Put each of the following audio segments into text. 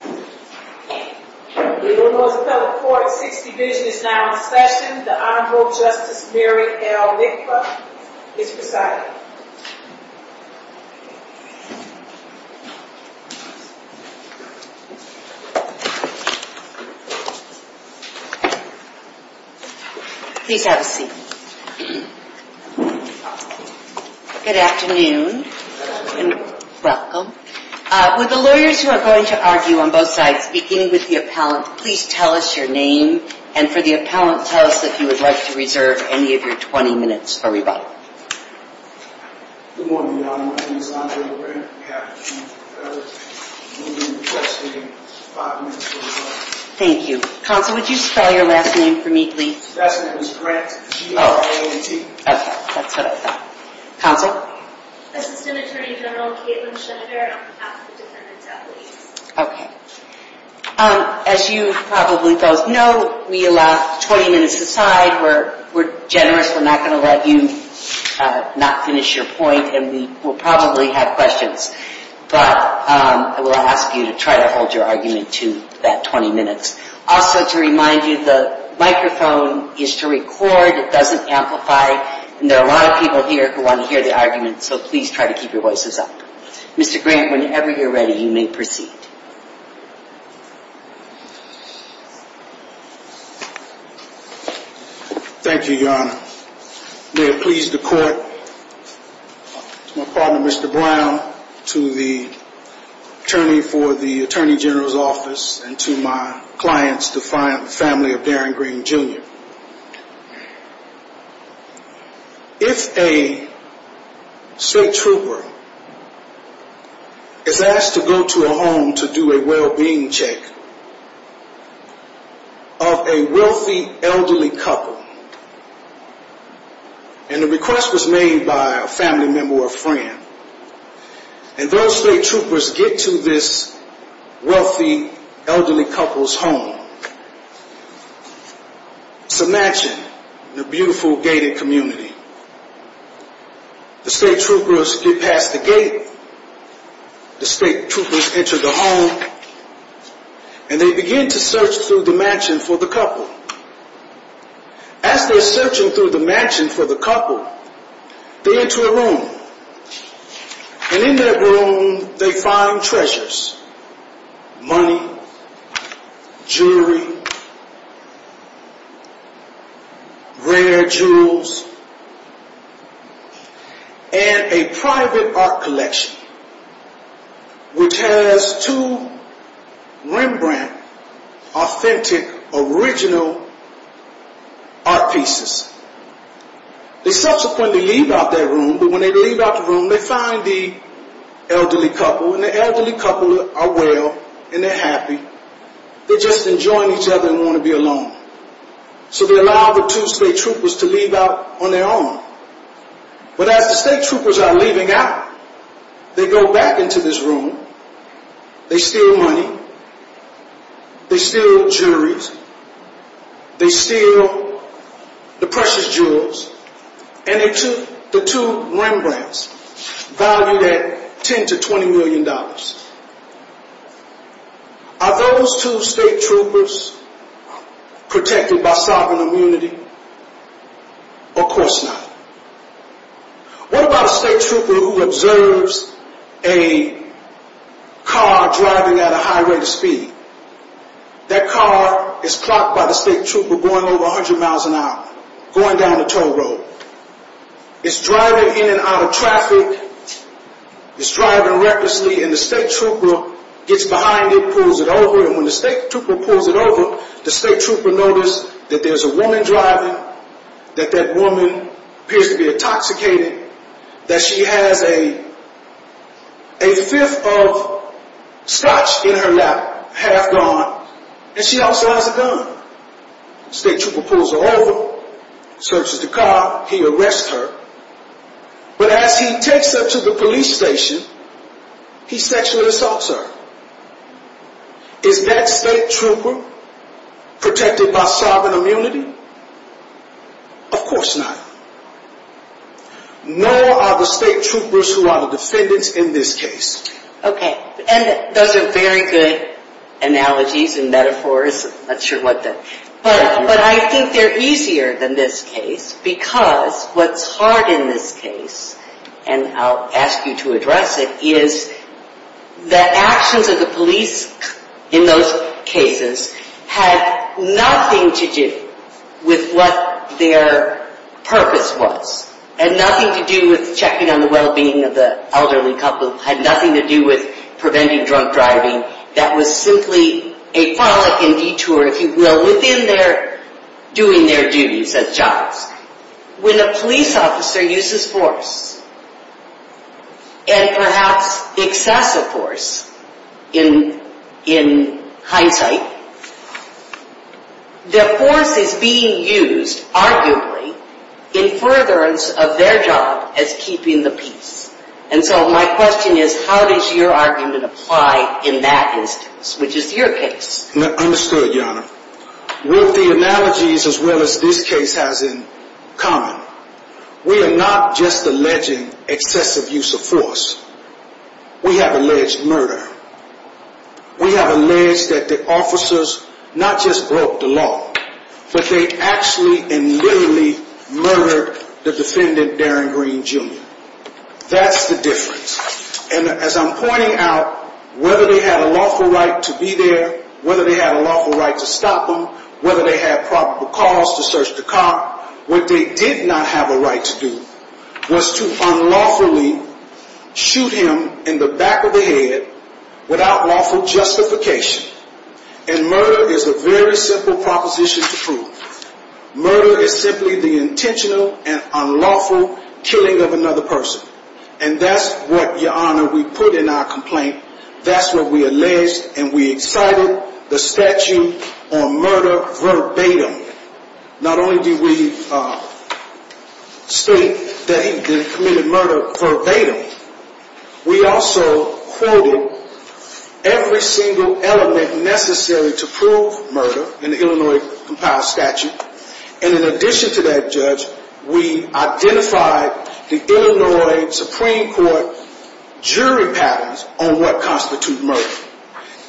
The Illinois Appellate Court's Sixth Division is now in session. The Honorable Justice Mary L. Lickler is presiding. Please have a seat. Good afternoon and welcome. Would the lawyers who are going to argue on both sides, beginning with the appellant, please tell us your name. And for the appellant, tell us if you would like to reserve any of your 20 minutes for rebuttal. Good morning, Your Honor. My name is Andre LeBrun. I have two other moving requests, and I have five minutes for rebuttal. Thank you. Counsel, would you spell your last name for me, please? My last name is Grant. G-R-A-N-T. Okay, that's what I thought. Counsel? I'm Assistant Attorney General Kaitlin Schneider. I'm an appellate defendant at least. Okay. As you probably both know, we allow 20 minutes aside. We're generous. We're not going to let you not finish your point, and we will probably have questions. But I will ask you to try to hold your argument to that 20 minutes. Also, to remind you, the microphone is to record. It doesn't amplify. And there are a lot of people here who want to hear the argument, so please try to keep your voices up. Mr. Grant, whenever you're ready, you may proceed. Thank you, Your Honor. May it please the court, to my partner, Mr. Brown, to the attorney for the Attorney General's office, and to my clients, the family of Darren Green, Jr. If a state trooper is asked to go to a home to do a well-being check of a wealthy, elderly couple, and the request was made by a family member or friend, and those state troopers get to this wealthy, elderly couple's home. It's a mansion in a beautiful, gated community. The state troopers get past the gate, the state troopers enter the home, and they begin to search through the mansion for the couple. As they're searching through the mansion for the couple, they enter a room. And in that room, they find treasures. Money, jewelry, rare jewels, and a private art collection, which has two Rembrandt authentic, original art pieces. They subsequently leave out that room, but when they leave out the room, they find the elderly couple, and the elderly couple are well, and they're happy. They're just enjoying each other and want to be alone. So they allow the two state troopers to leave out on their own. But as the state troopers are leaving out, they go back into this room, they steal money, they steal jewelry, they steal the precious jewels, and they took the two Rembrandts, valued at $10 to $20 million. Are those two state troopers protected by sovereign immunity? Of course not. What about a state trooper who observes a car driving at a high rate of speed? That car is blocked by the state trooper going over 100 miles an hour, going down the toll road. It's driving in and out of traffic. It's driving recklessly, and the state trooper gets behind it, pulls it over, and when the state trooper pulls it over, the state trooper noticed that there's a woman driving, that that woman appears to be intoxicated, that she has a fifth of scotch in her lap, half gone, and she also has a gun. State trooper pulls her over, searches the car, he arrests her, but as he takes her to the police station, he sexually assaults her. Is that state trooper protected by sovereign immunity? Of course not. Nor are the state troopers who are the defendants in this case. Okay, and those are very good analogies and metaphors, I'm not sure what they are. But I think they're easier than this case, because what's hard in this case, and I'll ask you to address it, is that actions of the police in those cases had nothing to do with what their purpose was. Had nothing to do with checking on the well-being of the elderly couple. Had nothing to do with preventing drunk driving. That was simply a follic in detour, if you will, within their, doing their duties as jobs. When a police officer uses force, and perhaps excessive force, in hindsight, the force is being used, arguably, in furtherance of their job as keeping the peace. And so my question is, how does your argument apply in that instance, which is your case? Understood, Your Honor. With the analogies as well as this case has in common, we are not just alleging excessive use of force. We have alleged murder. We have alleged that the officers not just broke the law, but they actually and literally murdered the defendant, Darren Green Jr. That's the difference. And as I'm pointing out, whether they had a lawful right to be there, whether they had a lawful right to stop them, whether they had probable cause to search the car, what they did not have a right to do was to unlawfully shoot him in the back of the head without lawful justification. And murder is a very simple proposition to prove. Murder is simply the intentional and unlawful killing of another person. And that's what, Your Honor, we put in our complaint. That's what we alleged, and we excited the statute on murder verbatim. Not only did we state that he committed murder verbatim, we also quoted every single element necessary to prove murder in the Illinois Compiled Statute. And in addition to that, Judge, we identified the Illinois Supreme Court jury patterns on what constitutes murder.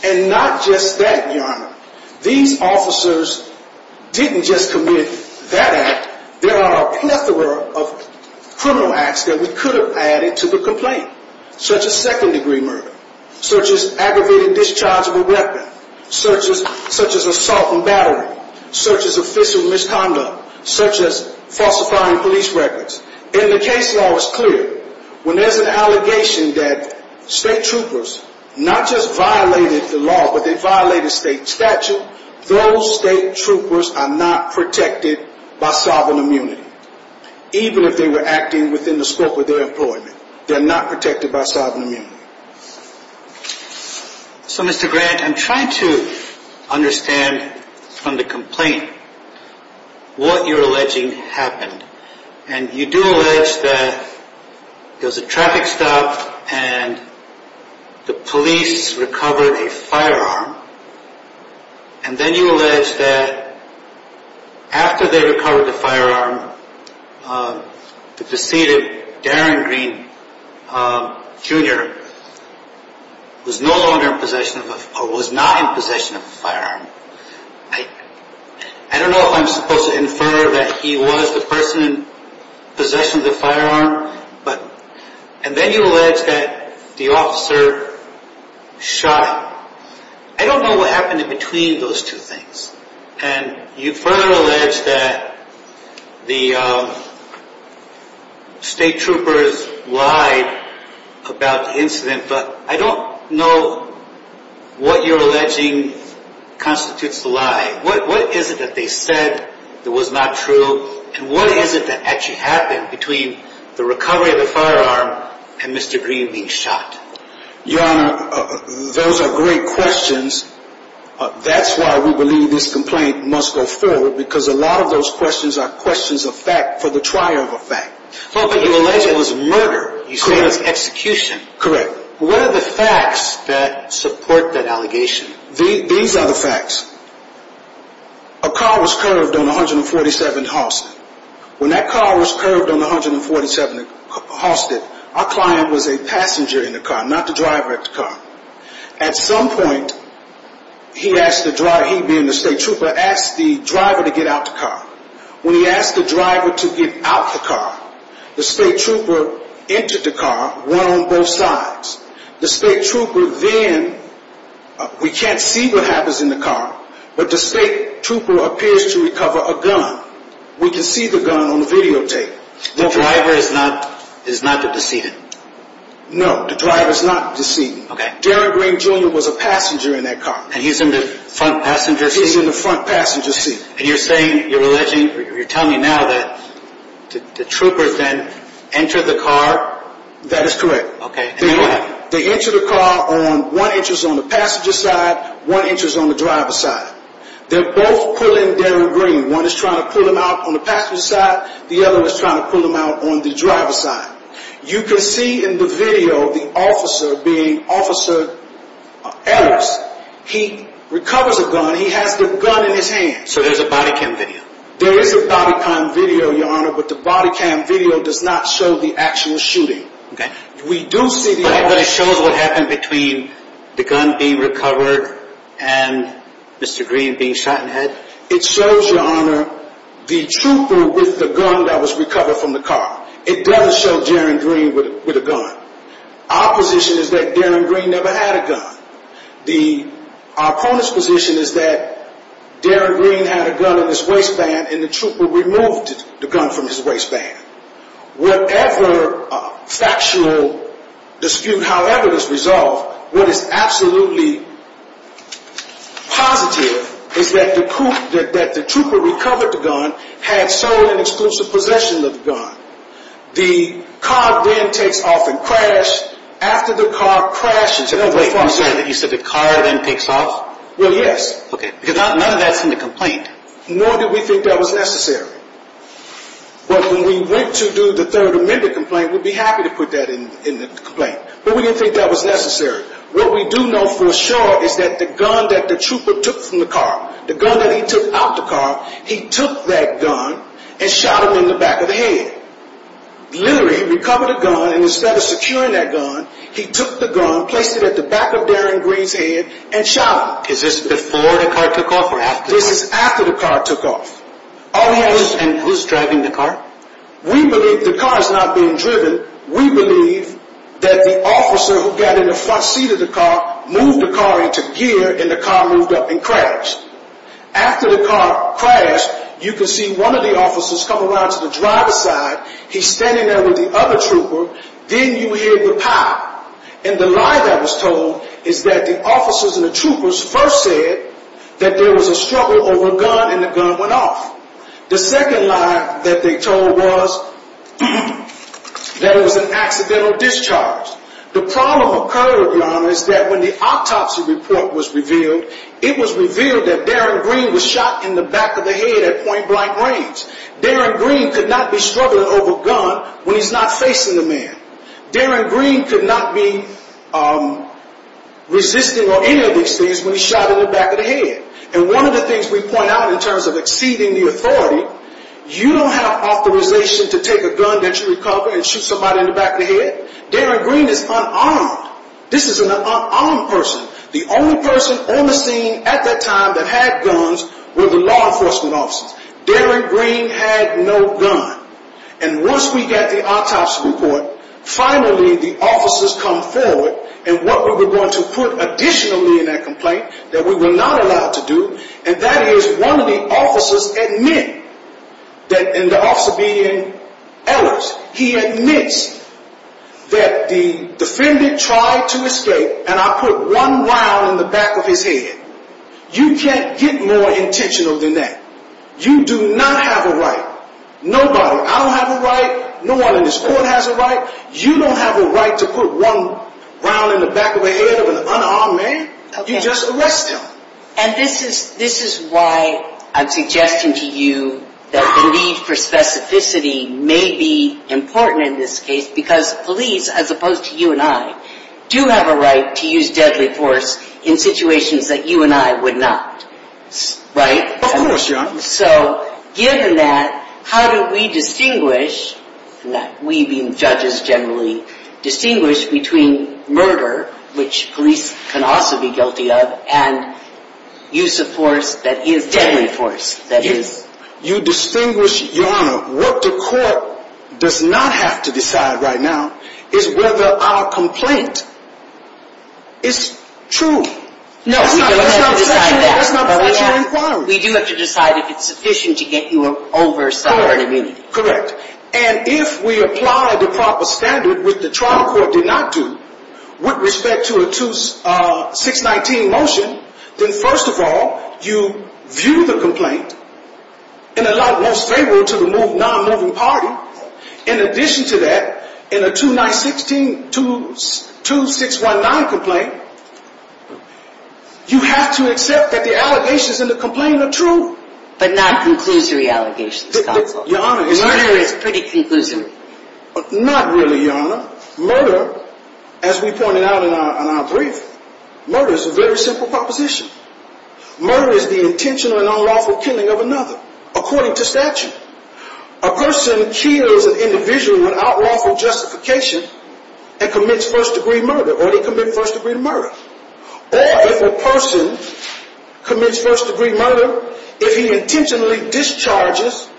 And not just that, Your Honor, these officers didn't just commit that act. There are a plethora of criminal acts that we could have added to the complaint, such as second-degree murder, such as aggravated discharge of a weapon, such as assault and battery, such as official misconduct, such as falsifying police records. In the case law, it's clear. When there's an allegation that state troopers not just violated the law, but they violated state statute, those state troopers are not protected by sovereign immunity, even if they were acting within the scope of their employment. They're not protected by sovereign immunity. So, Mr. Grant, I'm trying to understand from the complaint what you're alleging happened. And you do allege that there was a traffic stop and the police recovered a firearm. And then you allege that after they recovered the firearm, the deceited Darren Green Jr. was no longer in possession of a firearm, or was not in possession of a firearm. I don't know if I'm supposed to infer that he was the person in possession of the firearm. And then you allege that the officer shot him. I don't know what happened in between those two things. And you further allege that the state troopers lied about the incident, but I don't know what you're alleging constitutes the lie. What is it that they said that was not true? And what is it that actually happened between the recovery of the firearm and Mr. Green being shot? Your Honor, those are great questions. That's why we believe this complaint must go forward, because a lot of those questions are questions of fact for the trier of a fact. Well, but you allege it was murder. You say it was execution. Correct. What are the facts that support that allegation? These are the facts. A car was curved on 147th Halsted. When that car was curved on 147th Halsted, our client was a passenger in the car, not the driver of the car. At some point, he asked the driver, he being the state trooper, asked the driver to get out the car. When he asked the driver to get out the car, the state trooper entered the car, one on both sides. The state trooper then, we can't see what happens in the car, but the state trooper appears to recover a gun. We can see the gun on the videotape. The driver is not the decedent? No, the driver is not the decedent. Okay. Darren Green Jr. was a passenger in that car. And he's in the front passenger seat? He's in the front passenger seat. And you're saying, you're alleging, you're telling me now that the troopers then entered the car? That is correct. Okay, and then what happened? They entered the car on, one entrance on the passenger side, one entrance on the driver's side. They're both pulling Darren Green. One is trying to pull him out on the passenger side, the other is trying to pull him out on the driver's side. You can see in the video, the officer being Officer Ellis, he recovers a gun, he has the gun in his hand. So there's a body cam video? There is a body cam video, Your Honor, but the body cam video does not show the actual shooting. Okay. We do see the officer... But it shows what happened between the gun being recovered and Mr. Green being shot in the head? It shows, Your Honor, the trooper with the gun that was recovered from the car. It does show Darren Green with a gun. Our position is that Darren Green never had a gun. Our opponent's position is that Darren Green had a gun in his waistband and the trooper removed the gun from his waistband. Whatever factual dispute, however it is resolved, what is absolutely positive is that the trooper recovered the gun, had sole and exclusive possession of the gun. The car then takes off in crash. After the car crashes... Wait, you said the car then takes off? Well, yes. Okay, because none of that's in the complaint. Nor did we think that was necessary. But when we went to do the Third Amendment complaint, we'd be happy to put that in the complaint, but we didn't think that was necessary. What we do know for sure is that the gun that the trooper took from the car, the gun that he took out of the car, he took that gun and shot him in the back of the head. Literally, he recovered the gun and instead of securing that gun, he took the gun, placed it at the back of Darren Green's head and shot him. Is this before the car took off or after the car took off? This is after the car took off. And who's driving the car? We believe the car is not being driven. We believe that the officer who got in the front seat of the car moved the car into gear and the car moved up in crash. After the car crashed, you can see one of the officers come around to the driver's side. He's standing there with the other trooper. Then you hear the pop. And the lie that was told is that the officers and the troopers first said that there was a struggle over a gun and the gun went off. The second lie that they told was that it was an accidental discharge. The problem occurred, Your Honor, is that when the autopsy report was revealed, it was revealed that Darren Green was shot in the back of the head at point blank range. Darren Green could not be struggling over a gun when he's not facing the man. Darren Green could not be resisting or any of these things when he's shot in the back of the head. And one of the things we point out in terms of exceeding the authority, you don't have authorization to take a gun that you recover and shoot somebody in the back of the head. Darren Green is unarmed. This is an unarmed person. The only person on the scene at that time that had guns were the law enforcement officers. Darren Green had no gun. And once we got the autopsy report, finally the officers come forward and what we were going to put additionally in that complaint that we were not allowed to do, and that is one of the officers admit that, and the officer being Ellis, he admits that the defendant tried to escape and I put one round in the back of his head. You can't get more intentional than that. You do not have a right. Nobody. I don't have a right. No one in this court has a right. You don't have a right to put one round in the back of the head of an unarmed man. You just arrest him. And this is why I'm suggesting to you that the need for specificity may be important in this case because police, as opposed to you and I, do have a right to use deadly force in situations that you and I would not. Right? Of course, Your Honor. So given that, how do we distinguish, we being judges generally, distinguish between murder, which police can also be guilty of, and use of force that is deadly force. You distinguish, Your Honor, what the court does not have to decide right now is whether our complaint is true. No, we don't have to decide that. That's not part of your inquiry. We do have to decide if it's sufficient to get you over a cell phone immunity. Correct. And if we apply the proper standard, which the trial court did not do, with respect to a 619 motion, then first of all, you view the complaint in the light most favorable to the non-moving party. In addition to that, in a 296-2619 complaint, you have to accept that the allegations in the complaint are true. But not conclusory allegations. Murder is pretty conclusory. Not really, Your Honor. Murder, as we pointed out in our brief, murder is a very simple proposition. Murder is the intentional and unlawful killing of another, according to statute. A person kills an individual without lawful justification and commits first-degree murder, or they commit first-degree murder. Or if a person commits first-degree murder, if he intentionally discharges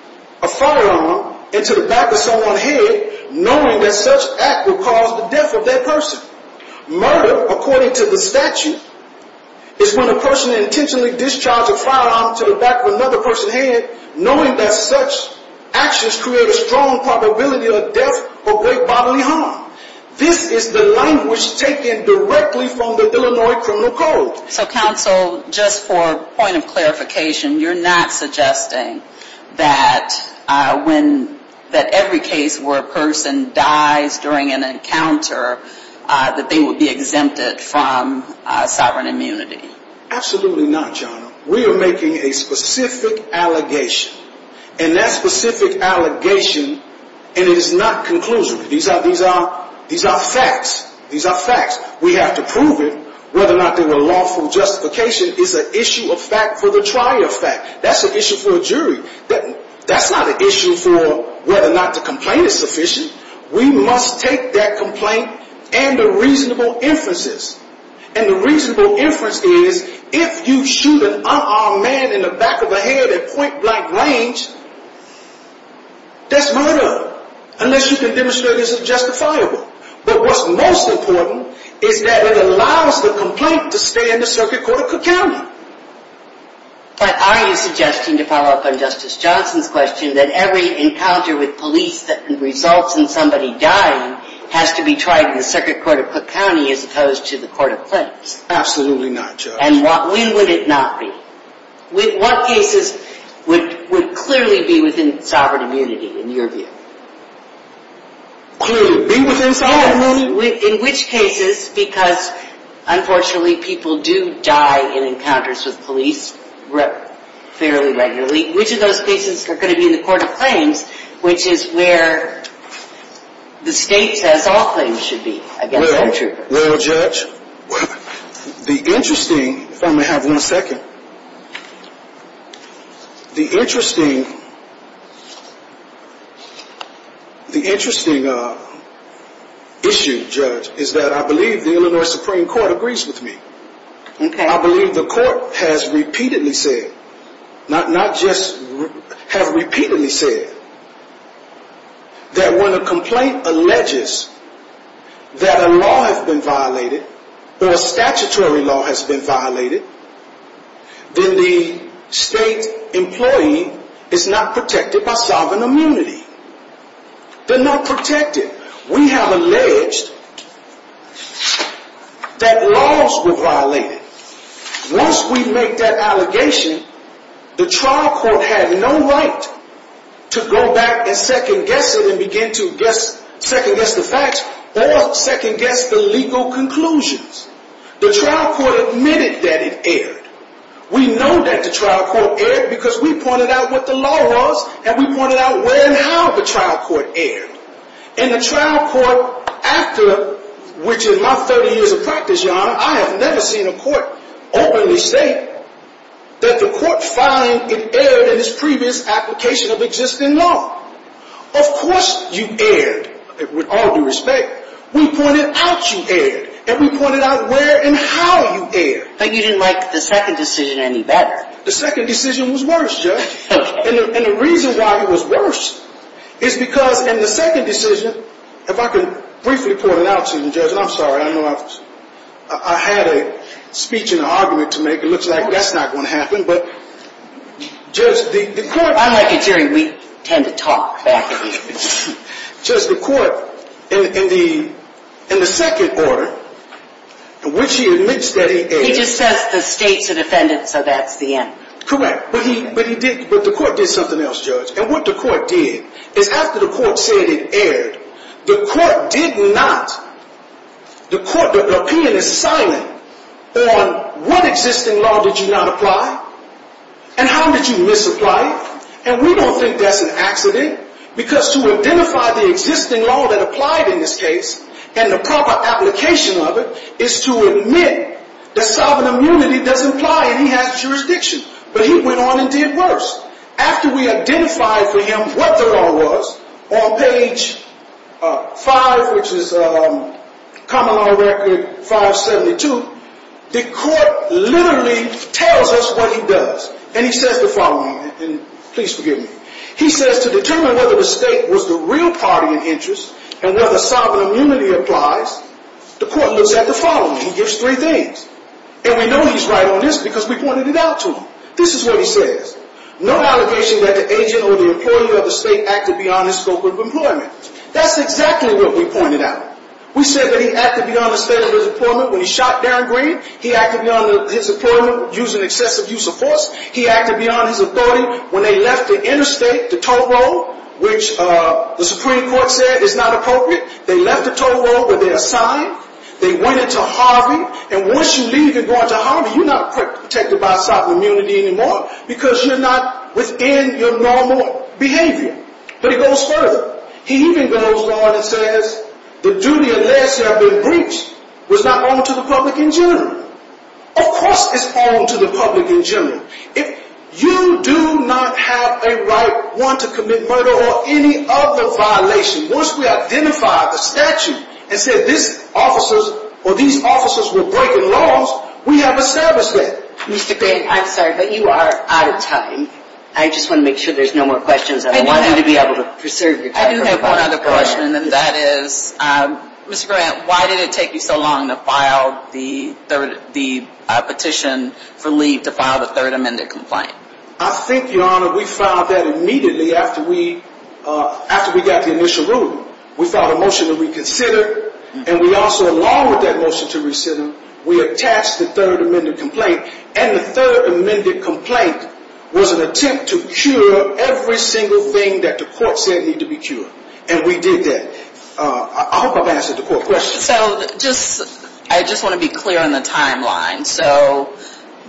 a firearm into the back of someone's head, knowing that such act would cause the death of that person. Murder, according to the statute, is when a person intentionally discharges a firearm into the back of another person's head, knowing that such actions create a strong probability of death or great bodily harm. This is the language taken directly from the Illinois Criminal Code. So, counsel, just for point of clarification, you're not suggesting that every case where a person dies during an encounter, that they would be exempted from sovereign immunity? Absolutely not, Your Honor. We are making a specific allegation. And that specific allegation, and it is not conclusive. These are facts. These are facts. We have to prove it. Whether or not there were lawful justification is an issue of fact for the trier of fact. That's an issue for a jury. That's not an issue for whether or not the complaint is sufficient. We must take that complaint and the reasonable inferences. And the reasonable inference is, if you shoot an unarmed man in the back of the head at point-blank range, that's murder, unless you can demonstrate it's justifiable. But what's most important is that it allows the complaint to stay in the circuit court of Cook County. But are you suggesting, to follow up on Justice Johnson's question, that every encounter with police that results in somebody dying has to be tried in the circuit court of Cook County as opposed to the court of plaintiffs? Absolutely not, Your Honor. And when would it not be? What cases would clearly be within sovereign immunity, in your view? Be within sovereign immunity? In which cases, because, unfortunately, people do die in encounters with police fairly regularly, which of those cases are going to be in the court of claims, which is where the state says all claims should be against that intruder? Well, Judge, the interesting issue, Judge, is that I believe the Illinois Supreme Court agrees with me. I believe the court has repeatedly said, not just have repeatedly said, that when a complaint alleges that a law has been violated, or a statutory law has been violated, then the state employee is not protected by sovereign immunity. They're not protected. We have alleged that laws were violated. Once we make that allegation, the trial court had no right to go back and second-guess it and begin to second-guess the facts or second-guess the legal conclusions. The trial court admitted that it erred. We know that the trial court erred because we pointed out what the law was, and we pointed out where and how the trial court erred. In the trial court after, which in my 30 years of practice, Your Honor, I have never seen a court openly state that the court found it erred in its previous application of existing law. Of course you erred, with all due respect. We pointed out you erred, and we pointed out where and how you erred. But you didn't like the second decision any better. The second decision was worse, Judge. Okay. And the reason why it was worse is because in the second decision, if I can briefly point it out to you, Judge, and I'm sorry. I know I had a speech and an argument to make. It looks like that's not going to happen, but, Judge, the court… I'm like you, Jerry. We tend to talk back and forth. Judge, the court in the second order, in which he admits that he erred… He just says the state's a defendant, so that's the end. Correct. But the court did something else, Judge. And what the court did is after the court said it erred, the court did not… The opinion is silent on what existing law did you not apply and how did you misapply it. And we don't think that's an accident because to identify the existing law that applied in this case and the proper application of it is to admit that sovereign immunity does apply and he has jurisdiction. But he went on and did worse. After we identified for him what the law was on page 5, which is common law record 572, the court literally tells us what he does. And he says the following, and please forgive me. He says to determine whether the state was the real party in interest and whether sovereign immunity applies, the court looks at the following. He gives three things. And we know he's right on this because we pointed it out to him. This is what he says. No allegation that the agent or the employer of the state acted beyond his scope of employment. That's exactly what we pointed out. We said that he acted beyond the state of his employment when he shot Darren Green. He acted beyond his employment using excessive use of force. He acted beyond his authority when they left the interstate, the toll road, which the Supreme Court said is not appropriate. They left the toll road where they're assigned. They went into Harvey. And once you leave and go into Harvey, you're not protected by sovereign immunity anymore because you're not within your normal behavior. But he goes further. He even goes on and says the duty of less have been breached was not on to the public in general. Of course it's on to the public in general. If you do not have a right, one, to commit murder or any other violation, once we identify the statute and say these officers were breaking laws, we have established that. Mr. Grant, I'm sorry, but you are out of time. I just want to make sure there's no more questions. I want you to be able to preserve your time. I do have one other question, and that is, Mr. Grant, why did it take you so long to file the petition for leave to file the third amended complaint? I think, Your Honor, we filed that immediately after we got the initial ruling. We filed a motion to reconsider, and we also, along with that motion to reconsider, we attached the third amended complaint. And the third amended complaint was an attempt to cure every single thing that the court said needed to be cured. And we did that. I hope I've answered the court question. So just, I just want to be clear on the timeline. So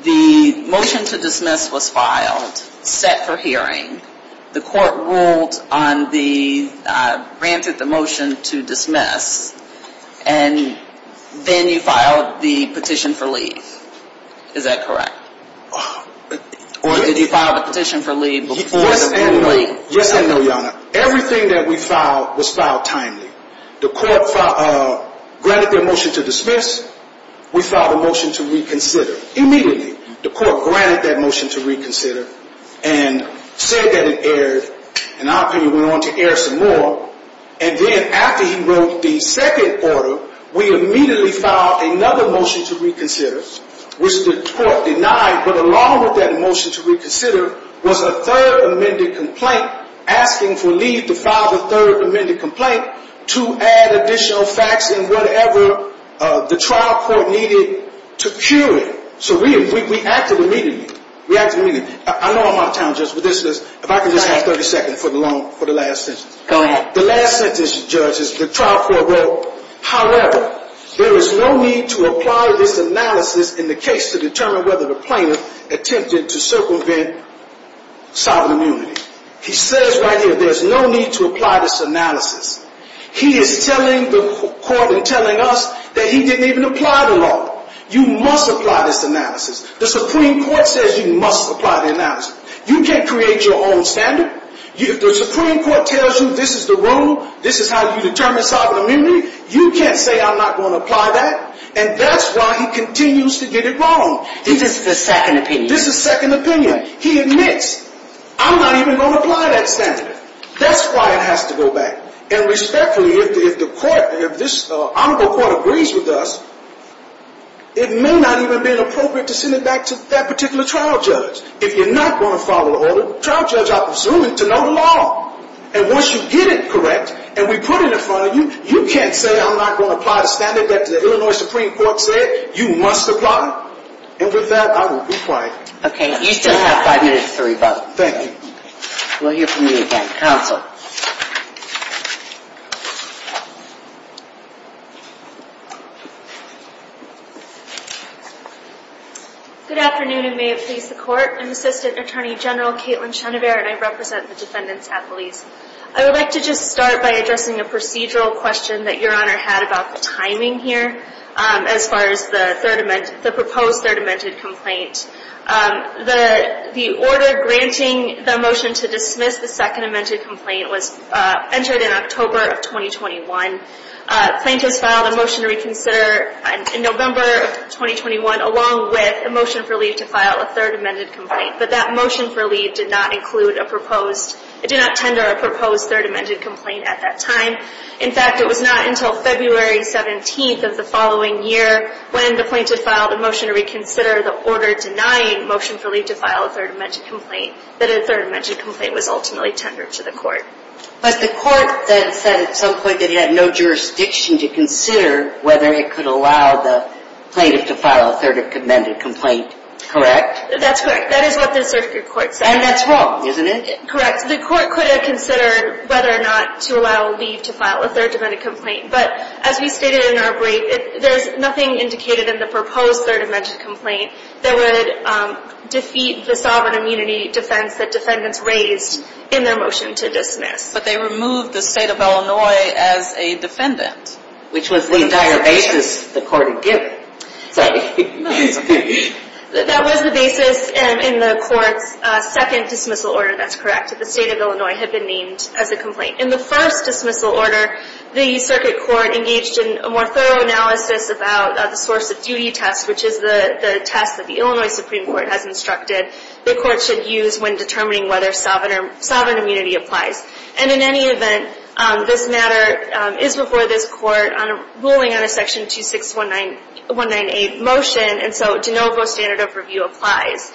the motion to dismiss was filed, set for hearing. The court ruled on the, granted the motion to dismiss, and then you filed the petition for leave. Is that correct? Or did you file the petition for leave before the ruling? Yes and no. Yes and no, Your Honor. Everything that we filed was filed timely. The court granted their motion to dismiss. We filed a motion to reconsider immediately. The court granted that motion to reconsider and said that it erred, and our opinion went on to err some more. And then after he wrote the second order, we immediately filed another motion to reconsider, which the court denied. But along with that motion to reconsider was a third amended complaint asking for leave to file the third amended complaint to add additional facts and whatever the trial court needed to cure it. So we acted immediately. We acted immediately. I know I'm out of time, Justice, but if I could just have 30 seconds for the last sentence. Go ahead. The last sentence, Judge, is the trial court wrote, however, there is no need to apply this analysis in the case to determine whether the plaintiff attempted to circumvent sovereign immunity. He says right here there's no need to apply this analysis. He is telling the court and telling us that he didn't even apply the law. You must apply this analysis. The Supreme Court says you must apply the analysis. You can't create your own standard. If the Supreme Court tells you this is the rule, this is how you determine sovereign immunity, you can't say I'm not going to apply that. And that's why he continues to get it wrong. This is the second opinion. This is second opinion. He admits, I'm not even going to apply that standard. That's why it has to go back. And respectfully, if the court, if this honorable court agrees with us, it may not even have been appropriate to send it back to that particular trial judge. If you're not going to follow the order, trial judge, I presume, to know the law. And once you get it correct and we put it in front of you, you can't say I'm not going to apply the standard that the Illinois Supreme Court said you must apply. And with that, I will be quiet. Okay. You still have five minutes to rebut. Thank you. We'll hear from you again. Counsel. Good afternoon, and may it please the court. I'm Assistant Attorney General Caitlin Chenevert, and I represent the defendants' affilies. I would like to just start by addressing a procedural question that Your Honor had about the timing here as far as the proposed third amended complaint. The order granting the motion to dismiss the second amended complaint was entered in October of 2021. Plaintiffs filed a motion to reconsider in November of 2021, along with a motion for leave to file a third amended complaint. But that motion for leave did not include a proposed, did not tender a proposed third amended complaint at that time. In fact, it was not until February 17th of the following year when the plaintiff filed a motion to reconsider the order denying motion for leave to file a third amended complaint that a third amended complaint was ultimately tendered to the court. But the court then said at some point that it had no jurisdiction to consider whether it could allow the plaintiff to file a third amended complaint. Correct? That's correct. That is what the circuit court said. And that's wrong, isn't it? Correct. The court could have considered whether or not to allow leave to file a third amended complaint. But as we stated in our break, there's nothing indicated in the proposed third amended complaint that would defeat the sovereign immunity defense that defendants raised in their motion to dismiss. But they removed the state of Illinois as a defendant. Which was the entire basis the court had given. Sorry. That was the basis in the court's second dismissal order. That's correct. The state of Illinois had been named as a complaint. In the first dismissal order, the circuit court engaged in a more thorough analysis about the source of duty test, which is the test that the Illinois Supreme Court has instructed the court should use when determining whether sovereign immunity applies. And in any event, this matter is before this court on a ruling on a section 26198 motion. And so de novo standard of review applies.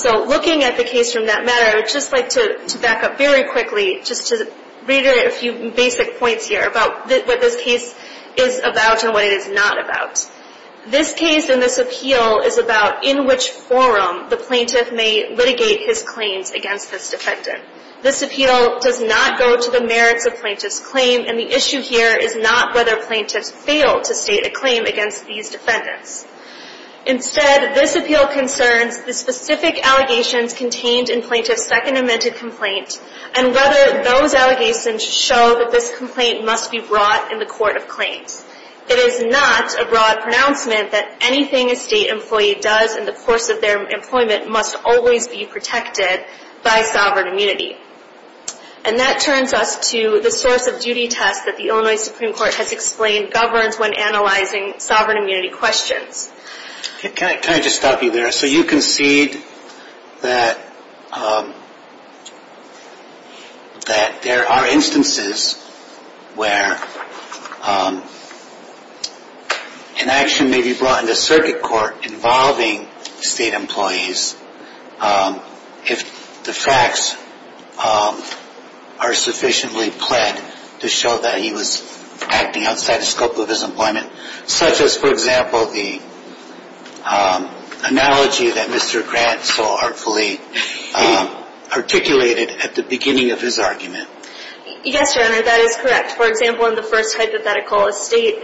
So looking at the case from that matter, I would just like to back up very quickly just to reiterate a few basic points here about what this case is about and what it is not about. This case and this appeal is about in which forum the plaintiff may litigate his claims against this defendant. This appeal does not go to the merits of plaintiff's claim. And the issue here is not whether plaintiffs fail to state a claim against these defendants. Instead, this appeal concerns the specific allegations contained in plaintiff's second amended complaint and whether those allegations show that this complaint must be brought in the court of claims. It is not a broad pronouncement that anything a state employee does in the course of their employment must always be protected by sovereign immunity. And that turns us to the source of duty test that the Illinois Supreme Court has explained governs when analyzing sovereign immunity questions. Can I just stop you there? So you concede that there are instances where an action may be brought into circuit court involving state employees if the facts are sufficiently pled to show that he was acting outside the scope of his employment? Such as, for example, the analogy that Mr. Grant so artfully articulated at the beginning of his argument. Yes, Your Honor, that is correct. For example, in the first hypothetical, a state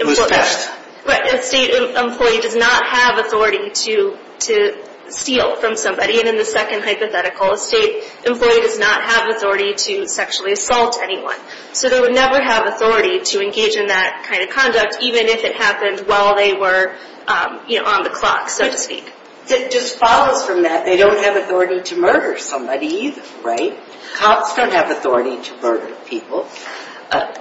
employee does not have authority to steal from somebody. And in the second hypothetical, a state employee does not have authority to sexually assault anyone. So they would never have authority to engage in that kind of conduct, even if it happened while they were on the clock, so to speak. It just follows from that. They don't have authority to murder somebody either, right? Cops don't have authority to murder people.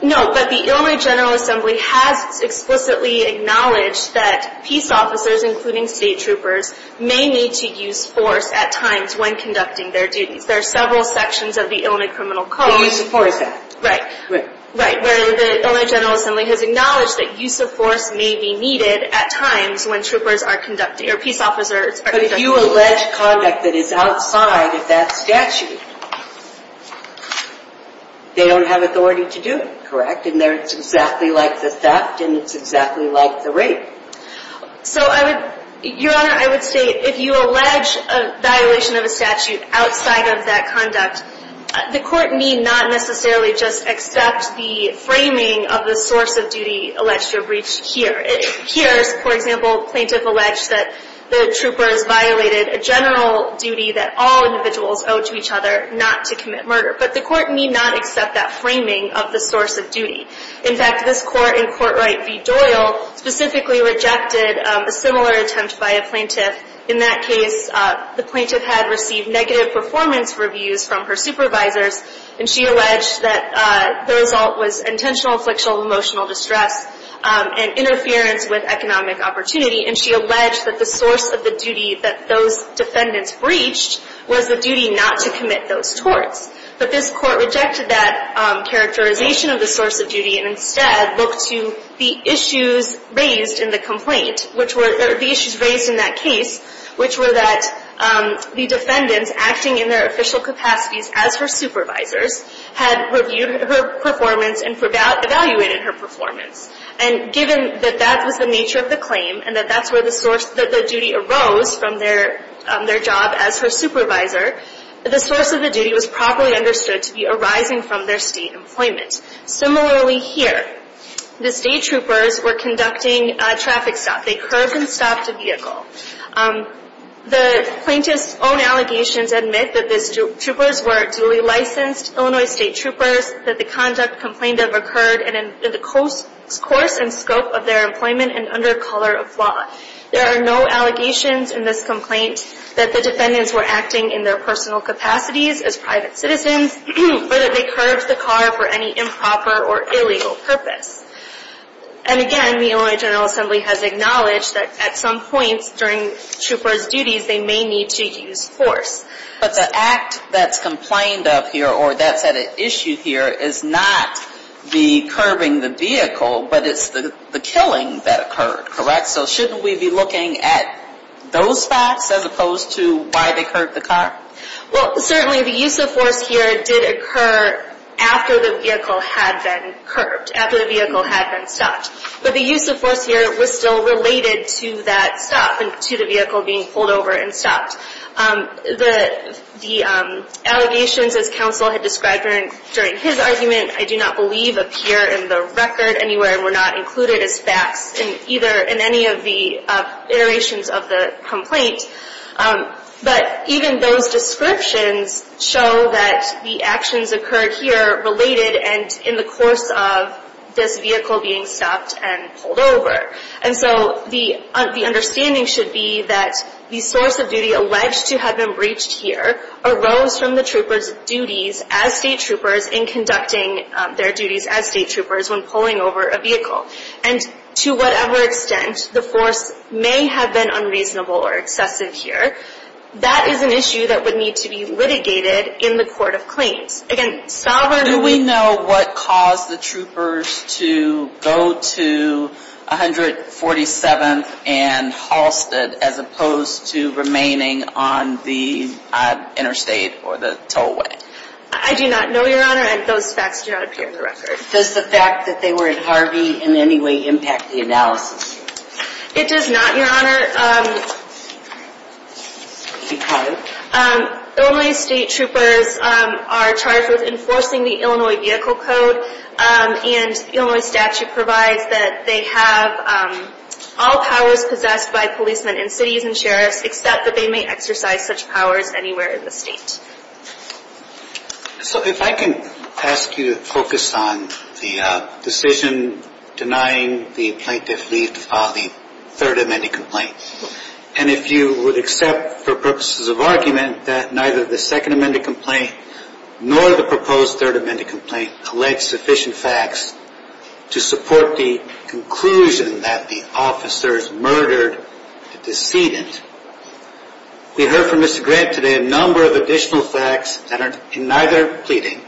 No, but the Illinois General Assembly has explicitly acknowledged that peace officers, including state troopers, may need to use force at times when conducting their duties. There are several sections of the Illinois Criminal Code. The Use of Force Act. Right. Right, where the Illinois General Assembly has acknowledged that use of force may be needed at times when troopers are conducting, or peace officers are conducting. But if you allege conduct that is outside of that statute, they don't have authority to do it, correct? And it's exactly like the theft, and it's exactly like the rape. Your Honor, I would say if you allege a violation of a statute outside of that conduct, the court need not necessarily just accept the framing of the source of duty alleged to have reached here. Here, for example, plaintiff alleged that the troopers violated a general duty that all individuals owe to each other, not to commit murder. But the court need not accept that framing of the source of duty. In fact, this court in Court Right v. Doyle specifically rejected a similar attempt by a plaintiff. In that case, the plaintiff had received negative performance reviews from her supervisors, and she alleged that the result was intentional, inflectional, emotional distress and interference with economic opportunity. And she alleged that the source of the duty that those defendants breached was the duty not to commit those torts. But this court rejected that characterization of the source of duty and instead looked to the issues raised in the complaint, which were the issues raised in that case, which were that the defendants acting in their official capacities as her supervisors had reviewed her performance and evaluated her performance. And given that that was the nature of the claim and that that's where the duty arose from their job as her supervisor, the source of the duty was properly understood to be arising from their state employment. Similarly here, the state troopers were conducting a traffic stop. They curbed and stopped a vehicle. The plaintiff's own allegations admit that the troopers were duly licensed Illinois State Troopers, that the conduct complained of occurred in the course and scope of their employment and under color of law. There are no allegations in this complaint that the defendants were acting in their personal capacities as private citizens, or that they curbed the car for any improper or illegal purpose. And again, the Illinois General Assembly has acknowledged that at some points during troopers' duties they may need to use force. But the act that's complained of here or that's at issue here is not the curbing the vehicle, but it's the killing that occurred, correct? So shouldn't we be looking at those facts as opposed to why they curbed the car? Well, certainly the use of force here did occur after the vehicle had been curbed, after the vehicle had been stopped. But the use of force here was still related to that stop and to the vehicle being pulled over and stopped. The allegations, as counsel had described during his argument, I do not believe appear in the record anywhere and were not included as facts in any of the iterations of the complaint. But even those descriptions show that the actions occurred here related and in the course of this vehicle being stopped and pulled over. And so the understanding should be that the source of duty alleged to have been breached here arose from the troopers' duties as state troopers in conducting their duties as state troopers when pulling over a vehicle. And to whatever extent the force may have been unreasonable or excessive here, that is an issue that would need to be litigated in the court of claims. Again, sovereignly... Do we know what caused the troopers to go to 147th and Halsted as opposed to remaining on the interstate or the tollway? I do not know, Your Honor, and those facts do not appear in the record. Does the fact that they were at Harvey in any way impact the analysis? It does not, Your Honor, because Illinois state troopers are charged with enforcing the Illinois Vehicle Code and the Illinois statute provides that they have all powers possessed by policemen in cities and sheriffs except that they may exercise such powers anywhere in the state. So if I can ask you to focus on the decision denying the plaintiff leave to file the 3rd Amendment complaint and if you would accept for purposes of argument that neither the 2nd Amendment complaint nor the proposed 3rd Amendment complaint collect sufficient facts to support the conclusion that the officers murdered the decedent. We heard from Mr. Grant today a number of additional facts that are in neither pleading.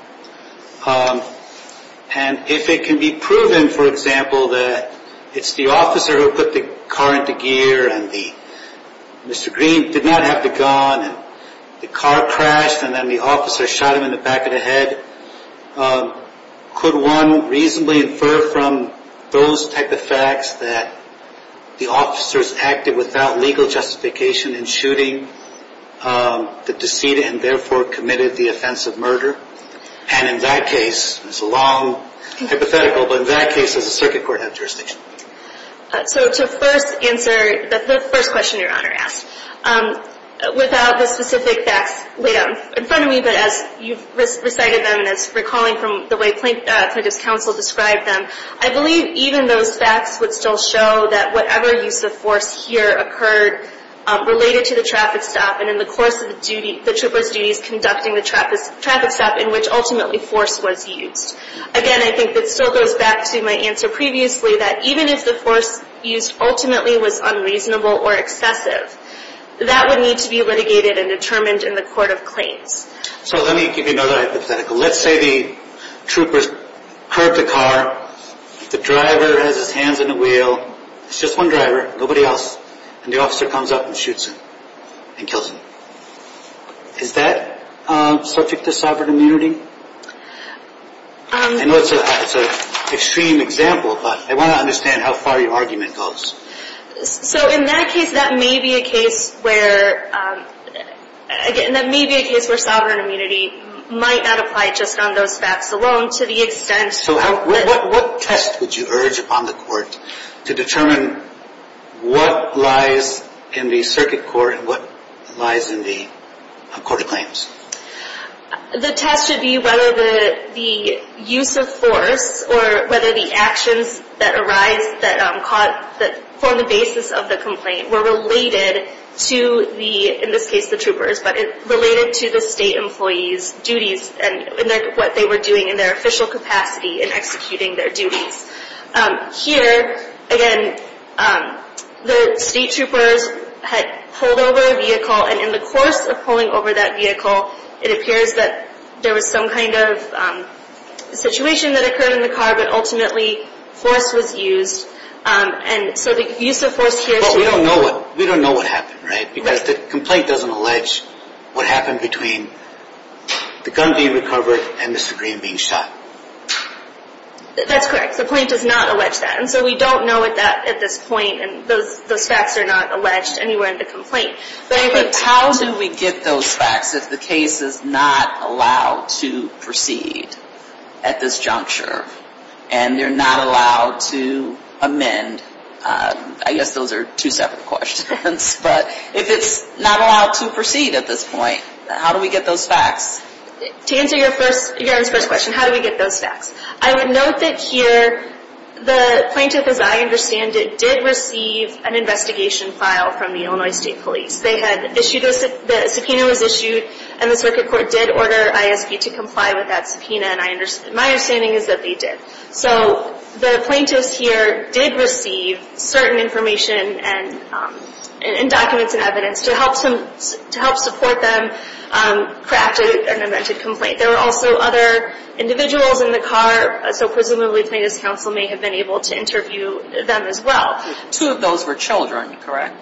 And if it can be proven, for example, that it's the officer who put the car into gear and Mr. Green did not have the gun and the car crashed and then the officer shot him in the back of the head, could one reasonably infer from those type of facts that the officers acted without legal justification in shooting the decedent and therefore committed the offensive murder? And in that case, it's a long hypothetical, but in that case does the circuit court have jurisdiction? So to first answer the first question Your Honor asked, without the specific facts laid out in front of me, but as you've recited them and as recalling from the way plaintiff's counsel described them, I believe even those facts would still show that whatever use of force here occurred related to the traffic stop and in the course of the trooper's duties conducting the traffic stop in which ultimately force was used. Again, I think that still goes back to my answer previously that even if the force used ultimately was unreasonable or excessive, that would need to be litigated and determined in the court of claims. So let me give you another hypothetical. Let's say the troopers curb the car, the driver has his hands in the wheel, it's just one driver, nobody else, and the officer comes up and shoots him and kills him. Is that subject to sovereign immunity? I know it's an extreme example, but I want to understand how far your argument goes. So in that case, that may be a case where sovereign immunity might not apply just on those facts alone. So what test would you urge upon the court to determine what lies in the circuit court and what lies in the court of claims? The test should be whether the use of force or whether the actions that arise that form the basis of the complaint were related to, in this case, the troopers, but related to the state employee's duties and what they were doing in their official capacity in executing their duties. Here, again, the state troopers had pulled over a vehicle, and in the course of pulling over that vehicle, it appears that there was some kind of situation that occurred in the car, but ultimately force was used. And so the use of force here... But we don't know what happened, right? Because the complaint doesn't allege what happened between the gun being recovered and Mr. Green being shot. That's correct. The complaint does not allege that. And so we don't know at this point, and those facts are not alleged anywhere in the complaint. But how do we get those facts if the case is not allowed to proceed at this juncture, and they're not allowed to amend? I guess those are two separate questions. But if it's not allowed to proceed at this point, how do we get those facts? To answer your first question, how do we get those facts? I would note that here the plaintiff, as I understand it, did receive an investigation file from the Illinois State Police. The subpoena was issued, and the circuit court did order ISP to comply with that subpoena. My understanding is that they did. So the plaintiffs here did receive certain information and documents and evidence to help support them craft an amended complaint. There were also other individuals in the car, so presumably plaintiff's counsel may have been able to interview them as well. Two of those were children, correct?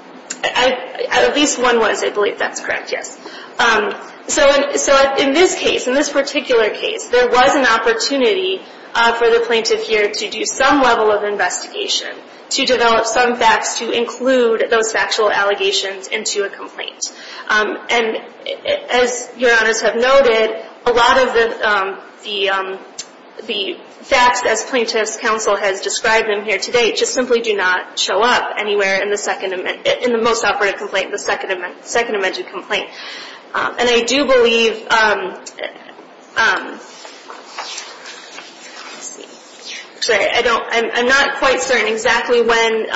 At least one was, I believe that's correct, yes. So in this case, in this particular case, there was an opportunity for the plaintiff here to do some level of investigation, to develop some facts to include those factual allegations into a complaint. And as Your Honors have noted, a lot of the facts, as plaintiff's counsel has described them here today, just simply do not show up anywhere in the most operative complaint, the second amended complaint. And I do believe, I'm not quite certain exactly when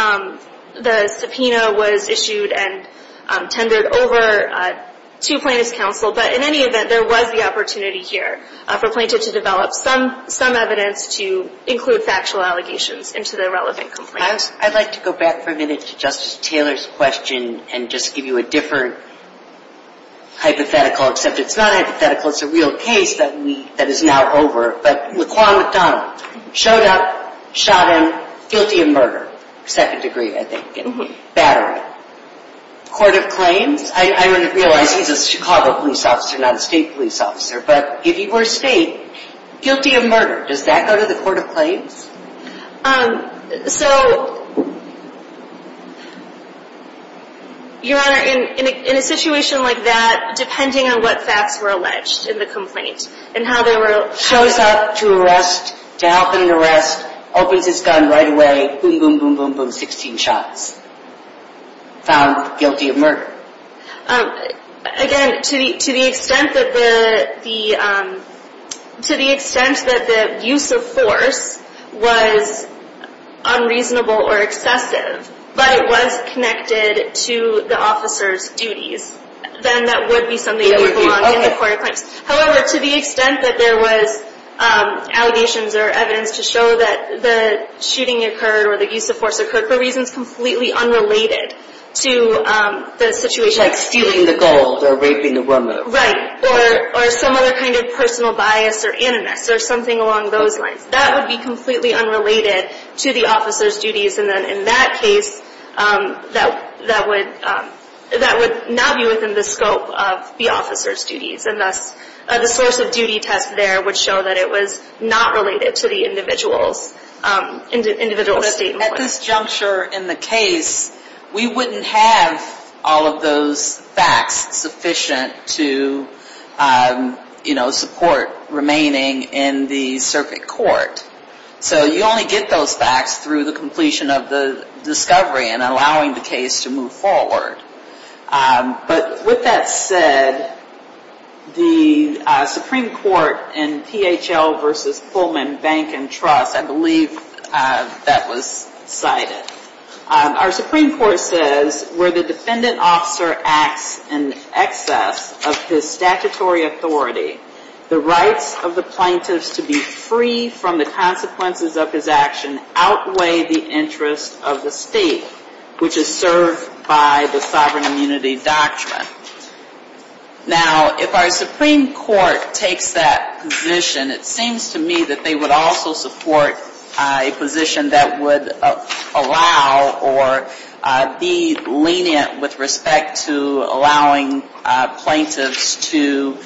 the subpoena was issued and tendered over to plaintiff's counsel, but in any event, there was the opportunity here for plaintiff to develop some evidence to include factual allegations into the relevant complaint. I'd like to go back for a minute to Justice Taylor's question and just give you a different hypothetical, except it's not a hypothetical, it's a real case that is now over. But Laquan McDonald showed up, shot him, guilty of murder, second degree I think, battery. Court of claims, I realize he's a Chicago police officer, not a state police officer, but if he were state, guilty of murder, does that go to the court of claims? So, Your Honor, in a situation like that, depending on what facts were alleged in the complaint and how they were Shows up to arrest, to help in the arrest, opens his gun right away, boom, boom, boom, boom, boom, 16 shots. Found guilty of murder. Again, to the extent that the use of force was unreasonable or excessive, but it was connected to the officer's duties, then that would be something that would belong in the court of claims. However, to the extent that there was allegations or evidence to show that the shooting occurred or the use of force occurred for reasons completely unrelated to the situation. Like stealing the gold or raping a woman. Right, or some other kind of personal bias or animus or something along those lines. That would be completely unrelated to the officer's duties. And then in that case, that would not be within the scope of the officer's duties. And thus, the source of duty test there would show that it was not related to the individual's statement. At this juncture in the case, we wouldn't have all of those facts sufficient to support remaining in the circuit court. So you only get those facts through the completion of the discovery and allowing the case to move forward. But with that said, the Supreme Court in PHL versus Pullman Bank and Trust, I believe that was cited. Our Supreme Court says, where the defendant officer acts in excess of his statutory authority, the rights of the plaintiffs to be free from the consequences of his action outweigh the interest of the state, which is served by the sovereign immunity doctrine. Now, if our Supreme Court takes that position, it seems to me that they would also support a position that would allow or be lenient with respect to allowing plaintiffs to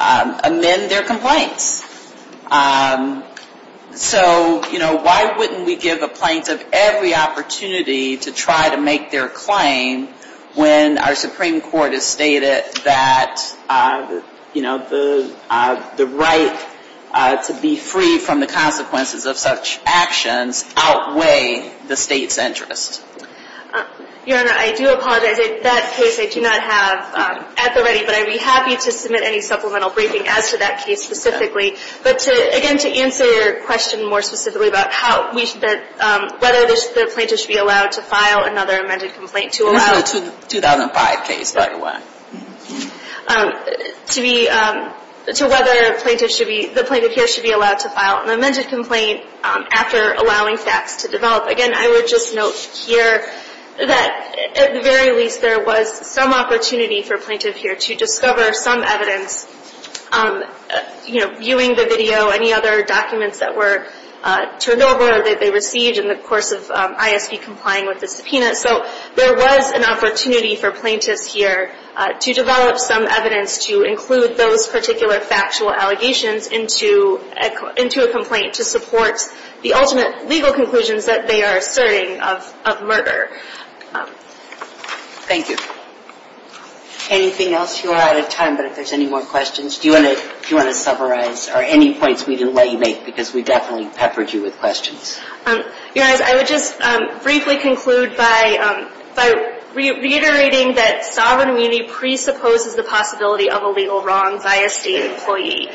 amend their complaints. So, you know, why wouldn't we give a plaintiff every opportunity to try to make their claim when our Supreme Court has stated that, you know, the right to be free from the consequences of such actions outweigh the state's interest? Your Honor, I do apologize. In that case, I do not have at the ready, but I would be happy to submit any supplemental briefing as to that case specifically. But again, to answer your question more specifically about whether the plaintiff should be allowed to file another amended complaint to allow This is a 2005 case, by the way. To whether the plaintiff here should be allowed to file an amended complaint after allowing facts to develop. Again, I would just note here that, at the very least, there was some opportunity for a plaintiff here to discover some evidence, you know, viewing the video, any other documents that were turned over that they received in the course of ISV complying with the subpoena. So there was an opportunity for plaintiffs here to develop some evidence to include those particular factual allegations into a complaint to support the ultimate legal conclusions that they are asserting of murder. Thank you. Anything else? You are out of time, but if there's any more questions, do you want to summarize? Or any points we didn't let you make, because we definitely peppered you with questions. Your Honor, I would just briefly conclude by reiterating that sovereign immunity presupposes the possibility of a legal wrong via state employee.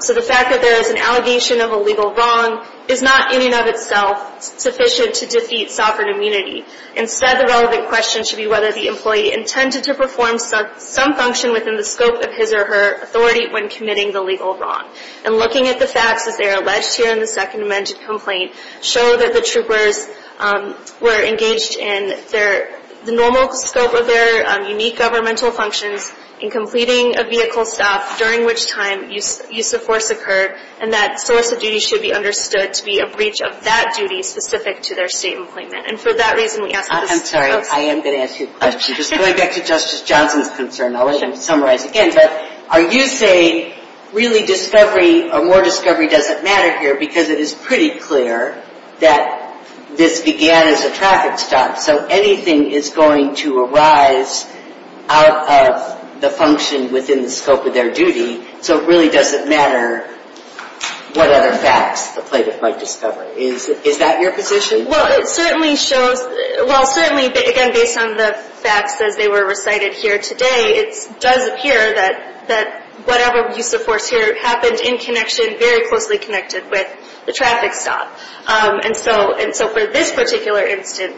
So the fact that there is an allegation of a legal wrong is not, in and of itself, sufficient to defeat sovereign immunity. Instead, the relevant question should be whether the employee intended to perform some function within the scope of his or her authority when committing the legal wrong. And looking at the facts, as they are alleged here in the second amended complaint, show that the troopers were engaged in the normal scope of their unique governmental functions in completing a vehicle stop, during which time use of force occurred, and that solicit duty should be understood to be a breach of that duty specific to their state employment. And for that reason, we ask that this be closed. I'm sorry. I am going to ask you a question. Just going back to Justice Johnson's concern, I'll let him summarize again. But are you saying really discovery or more discovery doesn't matter here because it is pretty clear that this began as a traffic stop, so anything is going to arise out of the function within the scope of their duty, so it really doesn't matter what other facts the plaintiff might discover. Is that your position? Well, it certainly shows, well, certainly, again, based on the facts as they were recited here today, it does appear that whatever use of force here happened in connection, very closely connected with the traffic stop. And so for this particular instance,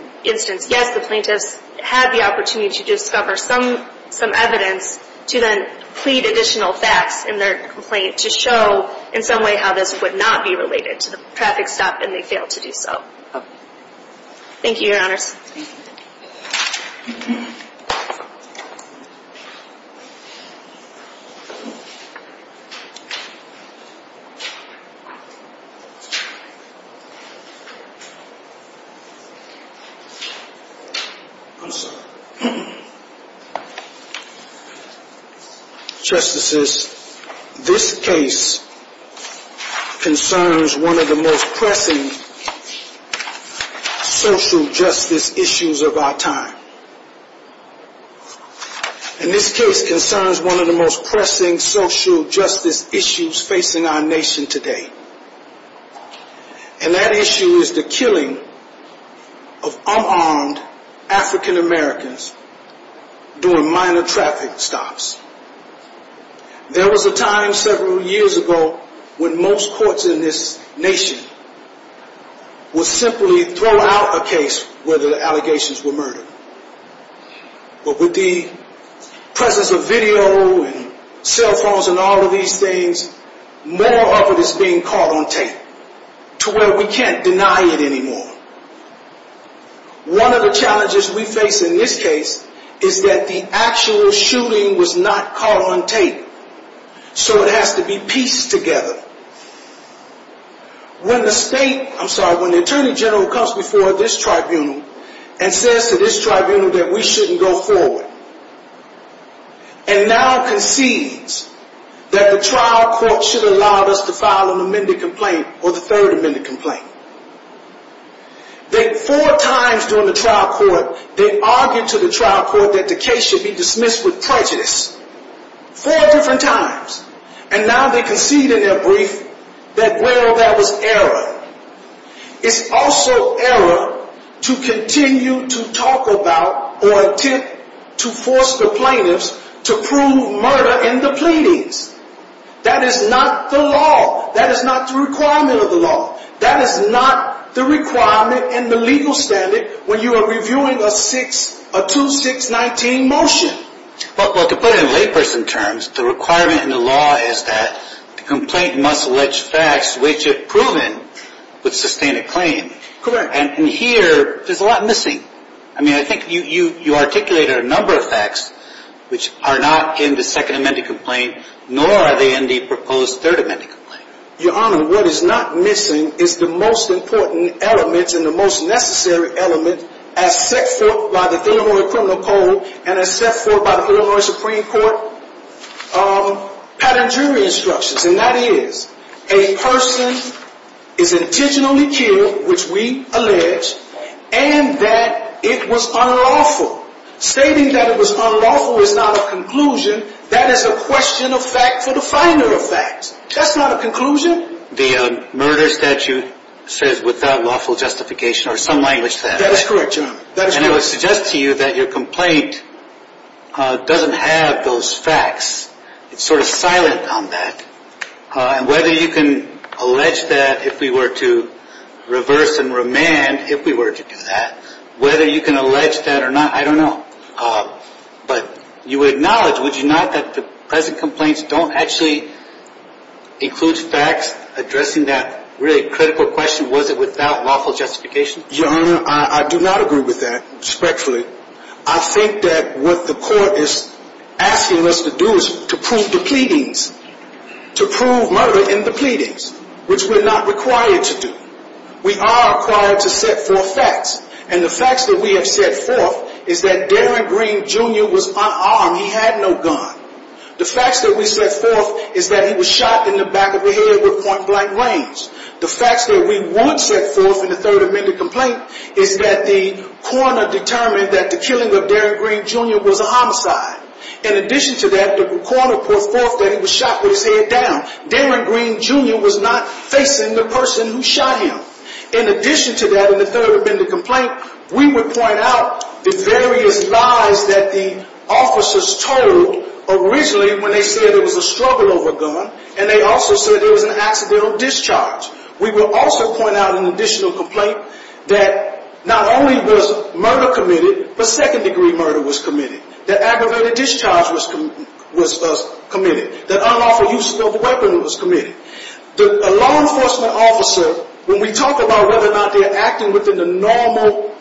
yes, the plaintiffs had the opportunity to discover some evidence to then plead additional facts in their complaint to show in some way how this would not be related to the traffic stop, and they failed to do so. Thank you, Your Honors. I'm sorry. Justices, this case concerns one of the most pressing social justice issues of our time. And this case concerns one of the most pressing social justice issues facing our nation today. And that issue is the killing of unarmed African Americans during minor traffic stops. There was a time several years ago when most courts in this nation would simply throw out a case where the allegations were murdered. But with the presence of video and cell phones and all of these things, more of it is being caught on tape to where we can't deny it anymore. One of the challenges we face in this case is that the actual shooting was not caught on tape, so it has to be pieced together. When the state, I'm sorry, when the Attorney General comes before this tribunal and says to this tribunal that we shouldn't go forward and now concedes that the trial court should have allowed us to file an amended complaint or the third amended complaint. Four times during the trial court, they argued to the trial court that the case should be dismissed with prejudice. Four different times. And now they concede in their brief that, well, that was error. It's also error to continue to talk about or attempt to force the plaintiffs to prove murder in the pleadings. That is not the law. That is not the requirement of the law. That is not the requirement in the legal standard when you are reviewing a 2619 motion. Well, to put it in layperson terms, the requirement in the law is that the complaint must allege facts which it proven would sustain a claim. Correct. And here, there's a lot missing. I mean, I think you articulated a number of facts which are not in the second amended complaint, nor are they in the proposed third amended complaint. Your Honor, what is not missing is the most important element and the most necessary element as set forth by the Illinois criminal code and as set forth by the Illinois Supreme Court pattern jury instructions, and that is a person is intentionally killed, which we allege, and that it was unlawful. Stating that it was unlawful is not a conclusion. That is a question of fact for the finder of facts. That's not a conclusion. The murder statute says without lawful justification or some language to that. That is correct, Your Honor. And I would suggest to you that your complaint doesn't have those facts. It's sort of silent on that. And whether you can allege that if we were to reverse and remand, if we were to do that, whether you can allege that or not, I don't know. But you would acknowledge, would you not, that the present complaints don't actually include facts addressing that really critical question, was it without lawful justification? Your Honor, I do not agree with that, respectfully. I think that what the court is asking us to do is to prove the pleadings, to prove murder in the pleadings, which we're not required to do. We are required to set forth facts, and the facts that we have set forth is that Darren Green, Jr. was unarmed. He had no gun. The facts that we set forth is that he was shot in the back of the head with point blank range. The facts that we would set forth in the third amended complaint is that the coroner determined that the killing of Darren Green, Jr. was a homicide. In addition to that, the coroner put forth that he was shot with his head down. Darren Green, Jr. was not facing the person who shot him. In addition to that, in the third amended complaint, we would point out the various lies that the officers told originally when they said there was a struggle over a gun, and they also said there was an accidental discharge. We will also point out an additional complaint that not only was murder committed, but second degree murder was committed. That aggravated discharge was committed. That unlawful use of a weapon was committed. A law enforcement officer, when we talk about whether or not they are acting within the normal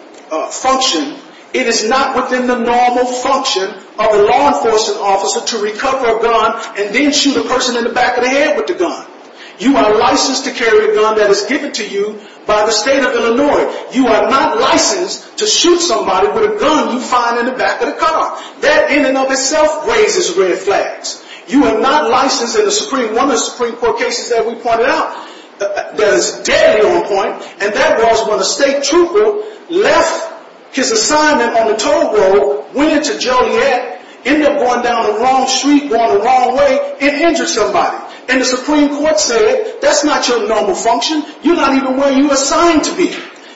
function, it is not within the normal function of a law enforcement officer to recover a gun and then shoot a person in the back of the head with the gun. You are licensed to carry a gun that is given to you by the state of Illinois. You are not licensed to shoot somebody with a gun you find in the back of the car. That in and of itself raises red flags. You are not licensed in one of the Supreme Court cases that we pointed out that is deadly on point, and that was when a state trooper left his assignment on the toll road, went into Joliet, ended up going down the wrong street, going the wrong way, and injured somebody. And the Supreme Court said, that's not your normal function. You're not even where you're assigned to be.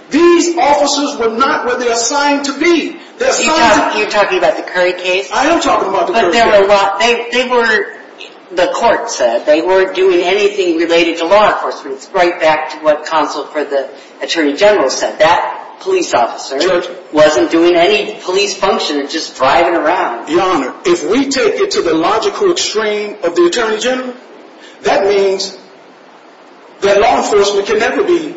These officers were not where they're assigned to be. You're talking about the Curry case? I am talking about the Curry case. But they were, the court said, they weren't doing anything related to law enforcement. It's right back to what counsel for the Attorney General said. That police officer wasn't doing any police function, just driving around. Your Honor, if we take it to the logical extreme of the Attorney General, that means that law enforcement can never be,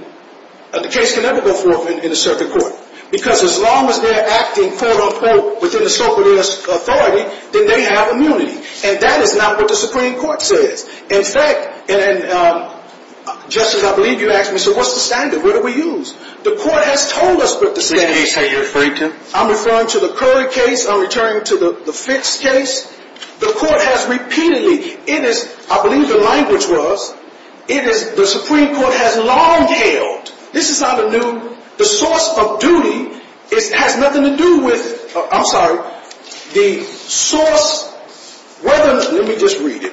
the case can never go forth in a circuit court. Because as long as they're acting, quote, unquote, within the scope of their authority, then they have immunity. And that is not what the Supreme Court says. In fact, Justice, I believe you asked me, so what's the standard? What do we use? The court has told us what the standard is. Is this the case that you're referring to? I'm referring to the Curry case. I'm referring to the Fitts case. The court has repeatedly, it is, I believe the language was, it is, the Supreme Court has long held, this is not a new, the source of duty has nothing to do with, I'm sorry, the source, whether, let me just read it.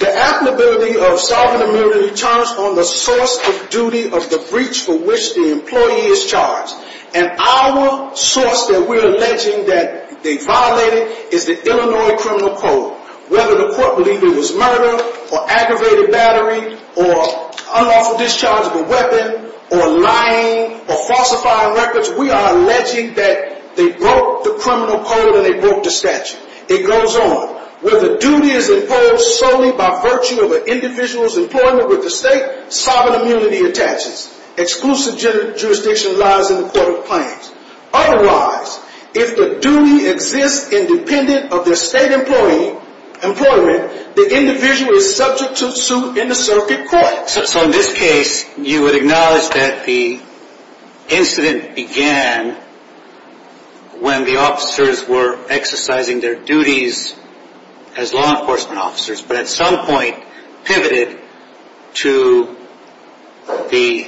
The applicability of sovereign immunity charged on the source of duty of the breach for which the employee is charged. And our source that we're alleging that they violated is the Illinois Criminal Code. Whether the court believed it was murder, or aggravated battery, or unlawful discharge of a weapon, or lying, or falsifying records, we are alleging that they broke the criminal code and they broke the statute. It goes on. Where the duty is imposed solely by virtue of an individual's employment with the state, sovereign immunity attaches. Exclusive jurisdiction lies in the court of claims. Otherwise, if the duty exists independent of their state employment, the individual is subject to suit in the circuit court. So in this case, you would acknowledge that the incident began when the officers were exercising their duties as law enforcement officers, but at some point pivoted to the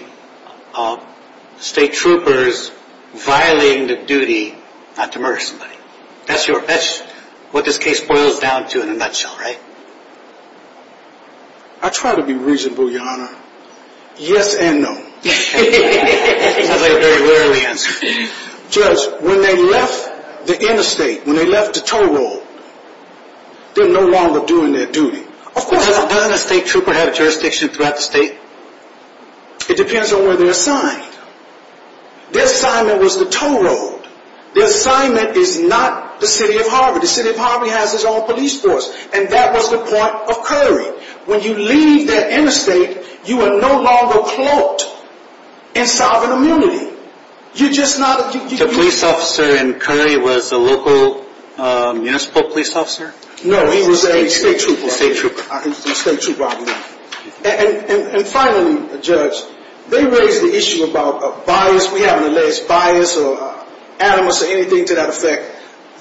state troopers violating the duty not to murder somebody. That's what this case boils down to in a nutshell, right? I try to be reasonable, Your Honor. Yes and no. Sounds like a very rarely answer. Judge, when they left the interstate, when they left the tow road, they're no longer doing their duty. Of course not. Doesn't a state trooper have jurisdiction throughout the state? It depends on where they're assigned. Their assignment was the tow road. Their assignment is not the city of Harvard. The city of Harvard has its own police force, and that was the point of curry. When you leave that interstate, you are no longer cloaked in sovereign immunity. The police officer in curry was a local municipal police officer? No, he was a state trooper. And finally, Judge, they raised the issue about bias. We haven't alleged bias or animus or anything to that effect.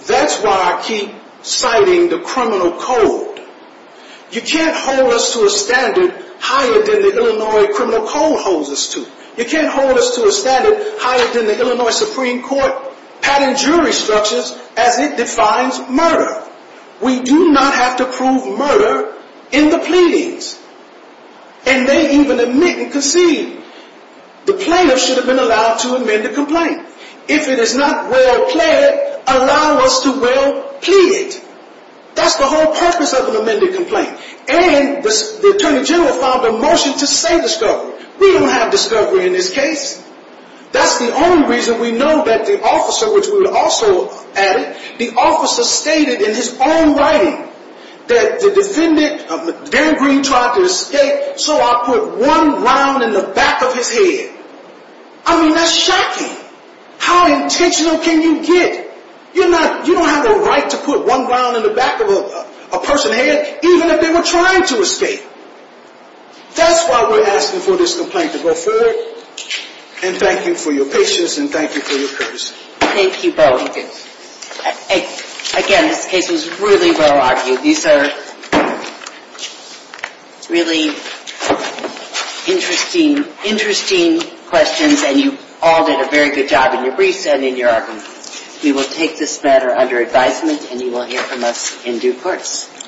That's why I keep citing the criminal code. You can't hold us to a standard higher than the Illinois criminal code holds us to. You can't hold us to a standard higher than the Illinois Supreme Court pattern jury structures as it defines murder. We do not have to prove murder in the pleadings. And they even admit and concede. The plaintiff should have been allowed to amend the complaint. If it is not well pled, allow us to well plead it. That's the whole purpose of an amended complaint. And the Attorney General filed a motion to say discovery. We don't have discovery in this case. That's the only reason we know that the officer, which we also added, the officer stated in his own writing that the defendant, Dan Green, tried to escape, so I put one round in the back of his head. I mean, that's shocking. How intentional can you get? You don't have the right to put one round in the back of a person's head even if they were trying to escape. That's why we're asking for this complaint to go further. And thank you for your patience and thank you for your courtesy. Thank you both. Again, this case was really well argued. These are really interesting questions, and you all did a very good job in your briefs and in your argument. We will take this matter under advisement, and you will hear from us in due course.